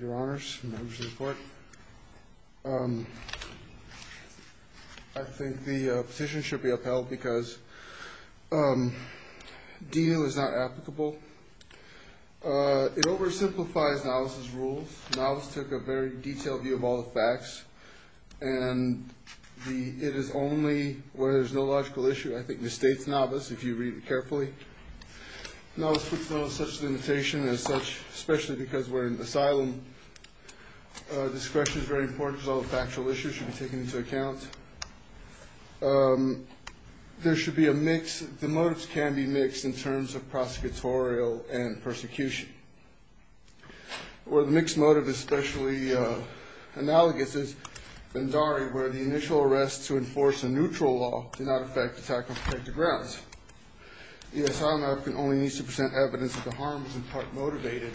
Your honors, members of the court, I think the petition should be upheld because D.U. is not applicable. It oversimplifies Navas' rules. Navas took a very detailed view of all the facts and it is only where there is no logical issue. I think it misstates Navas if you read it carefully. Navas puts Navas' limitation as such, especially because we are in asylum. Discretion is very important because all the factual issues should be taken into account. There should be a mix. The motives can be mixed in terms of prosecutorial and persecution. Where the mixed motive is especially analogous is Bhandari where the initial arrest to enforce a neutral law did not affect attack on protected grounds. The asylum applicant only needs to present evidence that the harm was in part motivated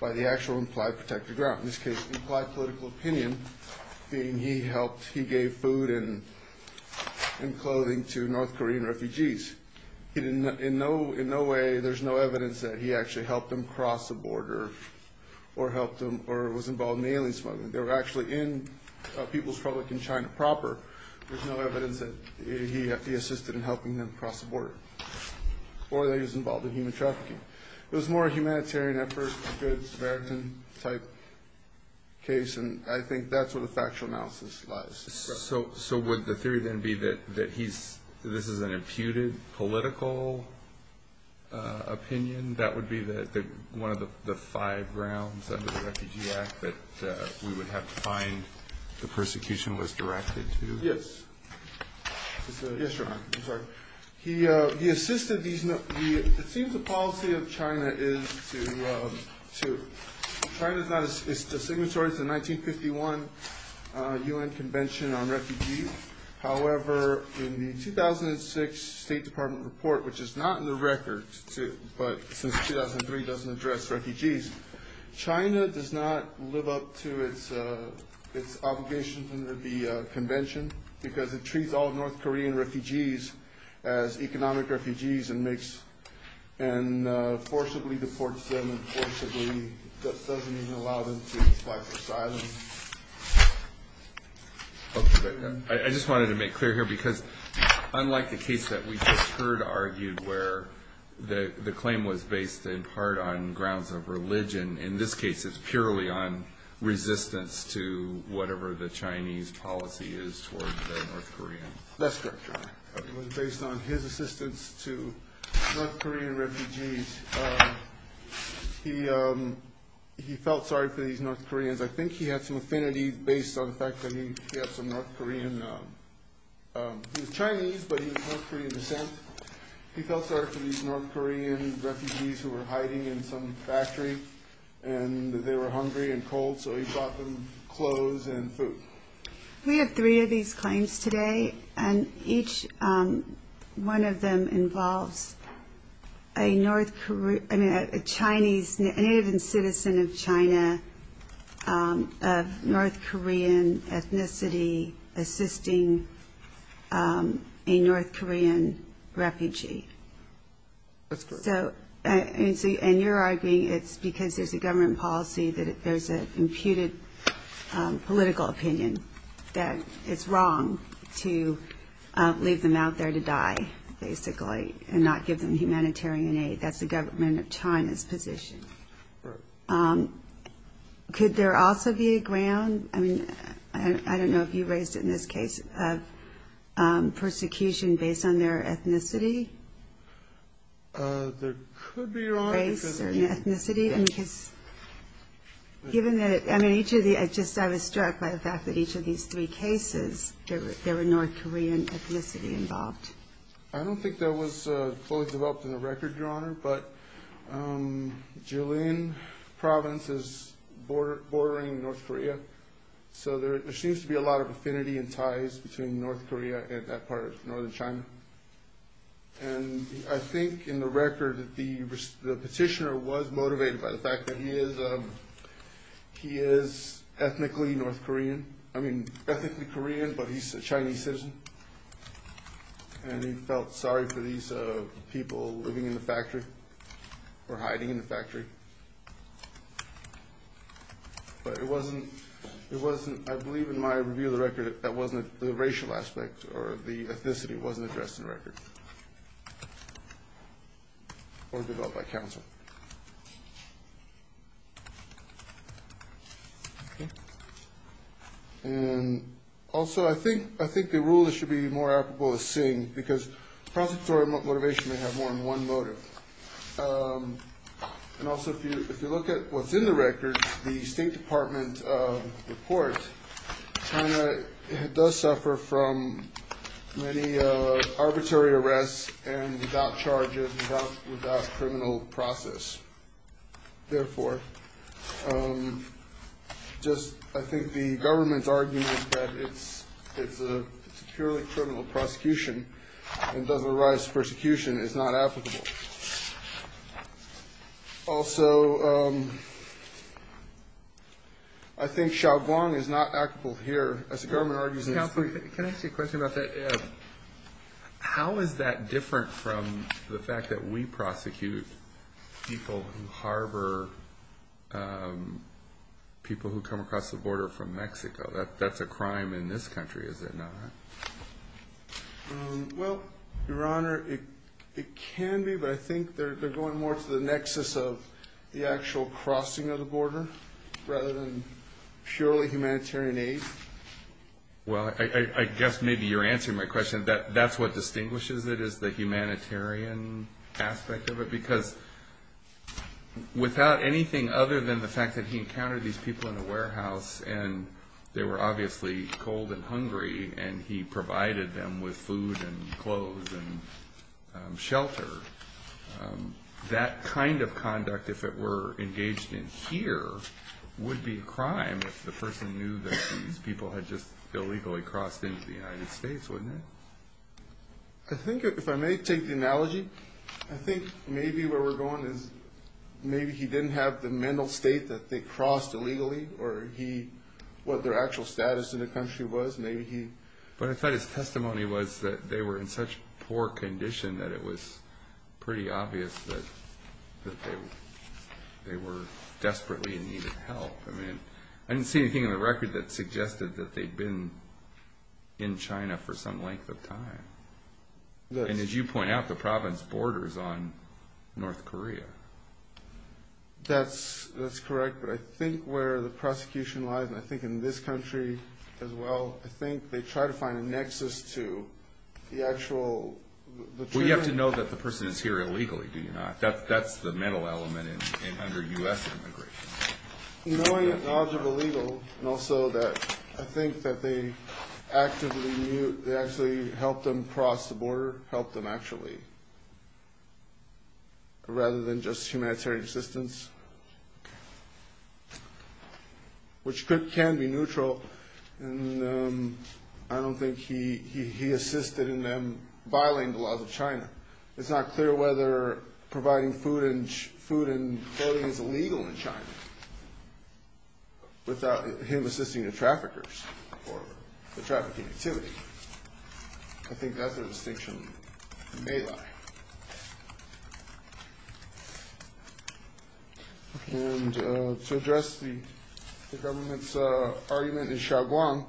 by the actual implied protected ground. In this case, the implied political opinion being he gave food and clothing to North Korean refugees. In no way, there is no evidence that he actually helped them cross the border or was involved in alien smuggling. They were actually in People's Republic of China proper. There is no evidence that he assisted in helping them cross the border or that he was involved in human trafficking. It was more a humanitarian effort, a good Samaritan type case and I think that is where the factual analysis lies. So would the theory then be that this is an imputed political opinion? That would be one of the five grounds under the Refugee Act that we would have to find the persecution was directed to? It seems the policy of China is to signatories the 1951 UN Convention on Refugees. However, in the 2006 State Department report, which is not in the record, but since 2003 doesn't address refugees. China does not live up to its obligations under the convention because it treats all North Korean refugees as economic refugees and forcibly deports them. It doesn't even allow them to apply for asylum. I just wanted to make clear here because unlike the case that we just heard argued where the claim was based in part on grounds of religion, in this case it is purely on resistance to whatever the Chinese policy is towards the North Koreans. That's correct. It was based on his assistance to North Korean refugees. He felt sorry for these North Koreans. I think he had some affinity based on the fact that he had some North Korean, he was Chinese but he was of North Korean descent. He felt sorry for these North Korean refugees who were hiding in some factory and they were hungry and cold so he bought them clothes and food. We have three of these claims today and each one of them involves a Chinese, a native and citizen of China, of North Korean ethnicity assisting a North Korean refugee. That's correct. And you're arguing it's because there's a government policy that there's an imputed political opinion that it's wrong to leave them out there to die, basically, and not give them humanitarian aid. That's the government of China's position. Correct. Could there also be a ground, I don't know if you raised it in this case, of persecution based on their ethnicity? There could be, Your Honor. Race or ethnicity? I was struck by the fact that each of these three cases, there were North Korean ethnicity involved. I don't think that was fully developed in the record, Your Honor, but Jilin province is bordering North Korea so there seems to be a lot of affinity and ties between North Korea and that part of northern China. And I think in the record the petitioner was motivated by the fact that he is ethnically North Korean, I mean ethnically Korean, but he's a Chinese citizen and he felt sorry for these people living in the factory or hiding in the factory. But it wasn't, I believe in my review of the record, that wasn't the racial aspect or the ethnicity wasn't addressed in the record or developed by counsel. Okay. And also I think the rulers should be more applicable to seeing because prosecutorial motivation may have more than one motive. And also if you look at what's in the record, the State Department report, China does suffer from many arbitrary arrests and without charges, without criminal process. Therefore, just I think the government's argument that it's a purely criminal prosecution and does arise persecution is not applicable. Also, I think Xiaoguang is not applicable here. As the government argues in this case. Counsel, can I ask you a question about that? How is that different from the fact that we prosecute people who harbor people who come across the border from Mexico? That's a crime in this country, is it not? Well, Your Honor, it can be. But I think they're going more to the nexus of the actual crossing of the border rather than purely humanitarian aid. Well, I guess maybe you're answering my question. That's what distinguishes it is the humanitarian aspect of it. Because without anything other than the fact that he encountered these people in a warehouse and they were obviously cold and hungry and he provided them with food and clothes and shelter. That kind of conduct, if it were engaged in here, would be a crime if the person knew that these people had just illegally crossed into the United States, wouldn't it? I think if I may take the analogy, I think maybe where we're going is maybe he didn't have the mental state that they crossed illegally or what their actual status in the country was, maybe he... But I thought his testimony was that they were in such poor condition that it was pretty obvious that they were desperately in need of help. I mean, I didn't see anything in the record that suggested that they'd been in China for some length of time. And as you point out, the province borders on North Korea. That's correct. But I think where the prosecution lies, and I think in this country as well, I think they try to find a nexus to the actual... Well, you have to know that the person is here illegally, do you not? That's the mental element under U.S. immigration. Knowing the knowledge of illegal, and also that I think that they actively... They actually helped them cross the border, helped them actually, rather than just humanitarian assistance, which can be neutral. And I don't think he assisted in them violating the laws of China. It's not clear whether providing food and clothing is illegal in China without him assisting the traffickers or the trafficking activity. I think that's the distinction they lie. And to address the government's argument in Xiaoguang,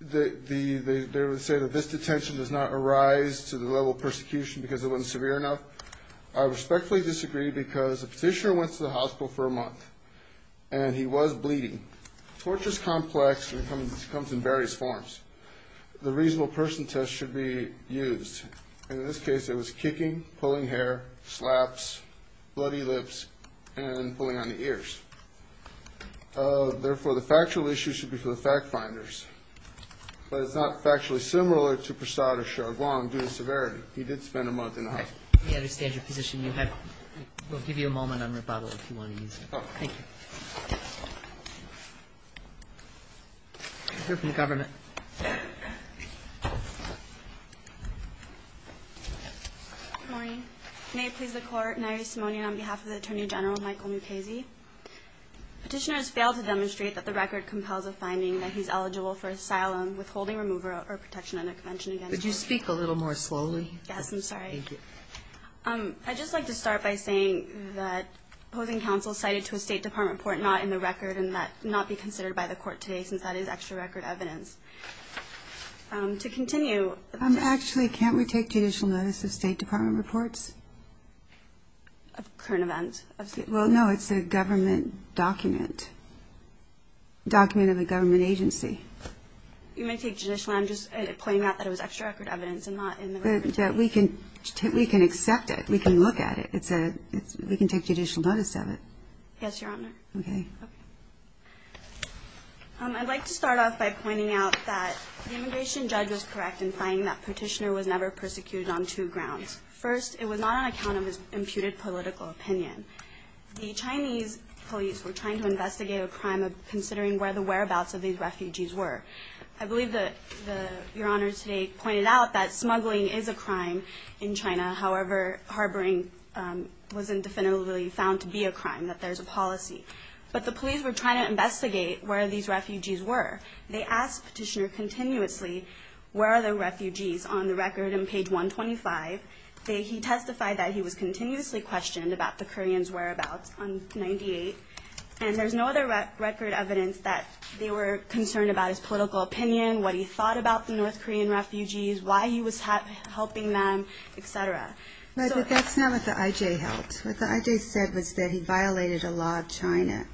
they would say that this detention does not arise to the level of persecution because it wasn't severe enough. I respectfully disagree because the petitioner went to the hospital for a month and he was bleeding. Torture is complex and it comes in various forms. The reasonable person test should be used. In this case, it was kicking, pulling hair, slaps, bloody lips, and pulling on the ears. Therefore, the factual issue should be for the fact finders. But it's not factually similar to Prasad or Xiaoguang due to severity. He did spend a month in the hospital. We understand your position. We'll give you a moment on rebuttal if you want to use it. Thank you. We'll hear from the government. Good morning. May it please the Court, an honorary simoneon on behalf of the Attorney General, Michael Mukasey. Petitioner has failed to demonstrate that the record compels a finding that he's eligible for asylum, withholding remover, or protection under convention against torture. Would you speak a little more slowly? Yes, I'm sorry. Thank you. I'd just like to start by saying that opposing counsel cited to a State Department report not in the record and that not be considered by the Court today since that is extra record evidence. To continue. Actually, can't we take judicial notice of State Department reports? Of current events. Well, no, it's a government document, document of a government agency. You may take judicial. I'm just pointing out that it was extra record evidence and not in the record today. We can accept it. We can look at it. We can take judicial notice of it. Yes, Your Honor. Okay. I'd like to start off by pointing out that the immigration judge was correct in finding that Petitioner was never persecuted on two grounds. First, it was not on account of his imputed political opinion. The Chinese police were trying to investigate a crime of considering where the whereabouts of these refugees were. I believe that Your Honor today pointed out that smuggling is a crime in China. However, harboring wasn't definitively found to be a crime, that there's a policy. But the police were trying to investigate where these refugees were. They asked Petitioner continuously where are the refugees on the record in page 125. He testified that he was continuously questioned about the Koreans' whereabouts on 98. And there's no other record evidence that they were concerned about his political opinion, what he thought about the North Korean refugees, why he was helping them, et cetera. But that's not what the I.J. held. What the I.J. said was that he violated a law of China,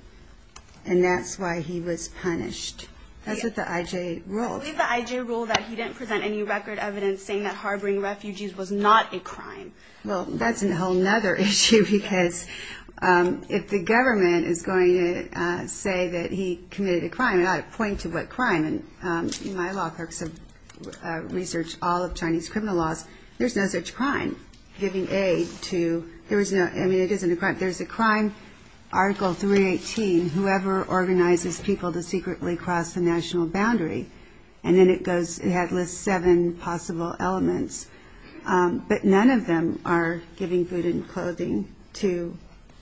and that's why he was punished. That's what the I.J. ruled. I believe the I.J. ruled that he didn't present any record evidence saying that harboring refugees was not a crime. Well, that's a whole other issue, because if the government is going to say that he committed a crime, and I point to what crime, and my law clerks have researched all of Chinese criminal laws, there's no such crime, giving aid to, I mean, it isn't a crime. There's a crime, Article 318, whoever organizes people to secretly cross the national boundary. And then it goes, it lists seven possible elements. But none of them are giving food and clothing to anyone.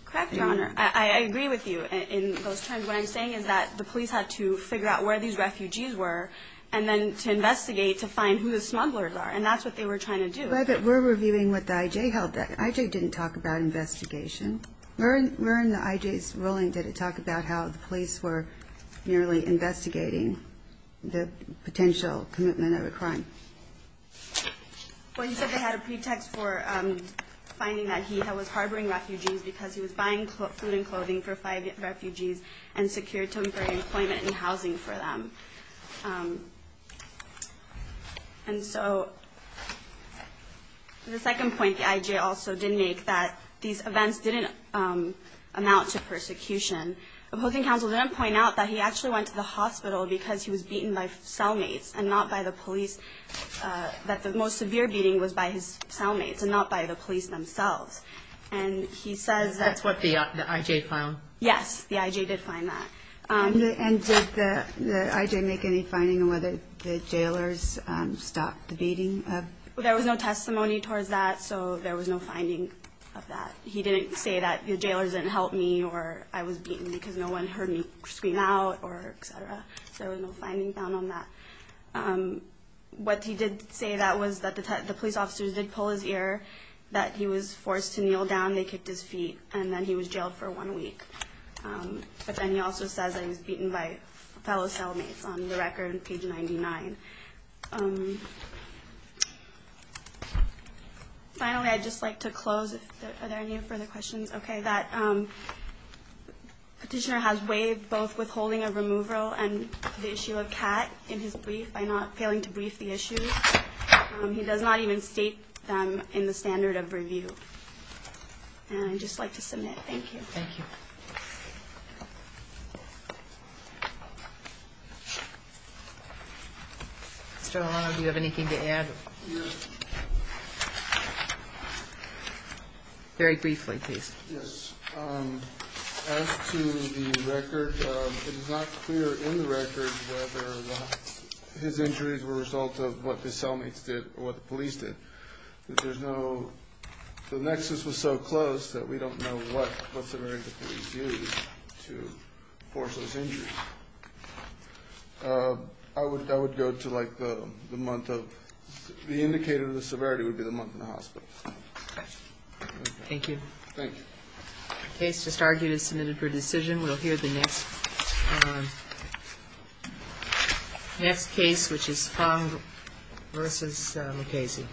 Correct, Your Honor. I agree with you in those terms. What I'm saying is that the police had to figure out where these refugees were, and then to investigate to find who the smugglers are, and that's what they were trying to do. Right, but we're reviewing what the I.J. held. The I.J. didn't talk about investigation. Where in the I.J.'s ruling did it talk about how the police were merely investigating the potential commitment of a crime? Well, he said they had a pretext for finding that he was harboring refugees because he was buying food and clothing for five refugees and secured temporary employment and housing for them. And so, the second point the I.J. also did make, that these events didn't amount to persecution. The public counsel didn't point out that he actually went to the hospital because he was beaten by cellmates and not by the police, that the most severe beating was by his cellmates and not by the police themselves. And he says that's what the I.J. found. Yes, the I.J. did find that. And did the I.J. make any finding on whether the jailers stopped the beating? There was no testimony towards that, so there was no finding of that. He didn't say that the jailers didn't help me or I was beaten because no one heard me scream out or et cetera. So there was no finding found on that. What he did say was that the police officers did pull his ear, that he was forced to kneel down, they kicked his feet, and then he was jailed for one week. But then he also says that he was beaten by fellow cellmates on the record, page 99. Finally, I'd just like to close. Are there any further questions? Okay, that petitioner has waived both withholding of removal and the issue of CAT in his brief by not failing to brief the issue. He does not even state them in the standard of review. And I'd just like to submit. Thank you. Thank you. Mr. Olano, do you have anything to add? No. Very briefly, please. Yes. As to the record, it is not clear in the record whether his injuries were a result of what his cellmates did or what the police did. There's no – the nexus was so close that we don't know what severity the police used to force those injuries. I would go to, like, the month of – the indicator of the severity would be the month in the hospital. Thank you. Thank you. The case just argued is submitted for decision. We'll hear the next case, which is Fung v. MacCasey.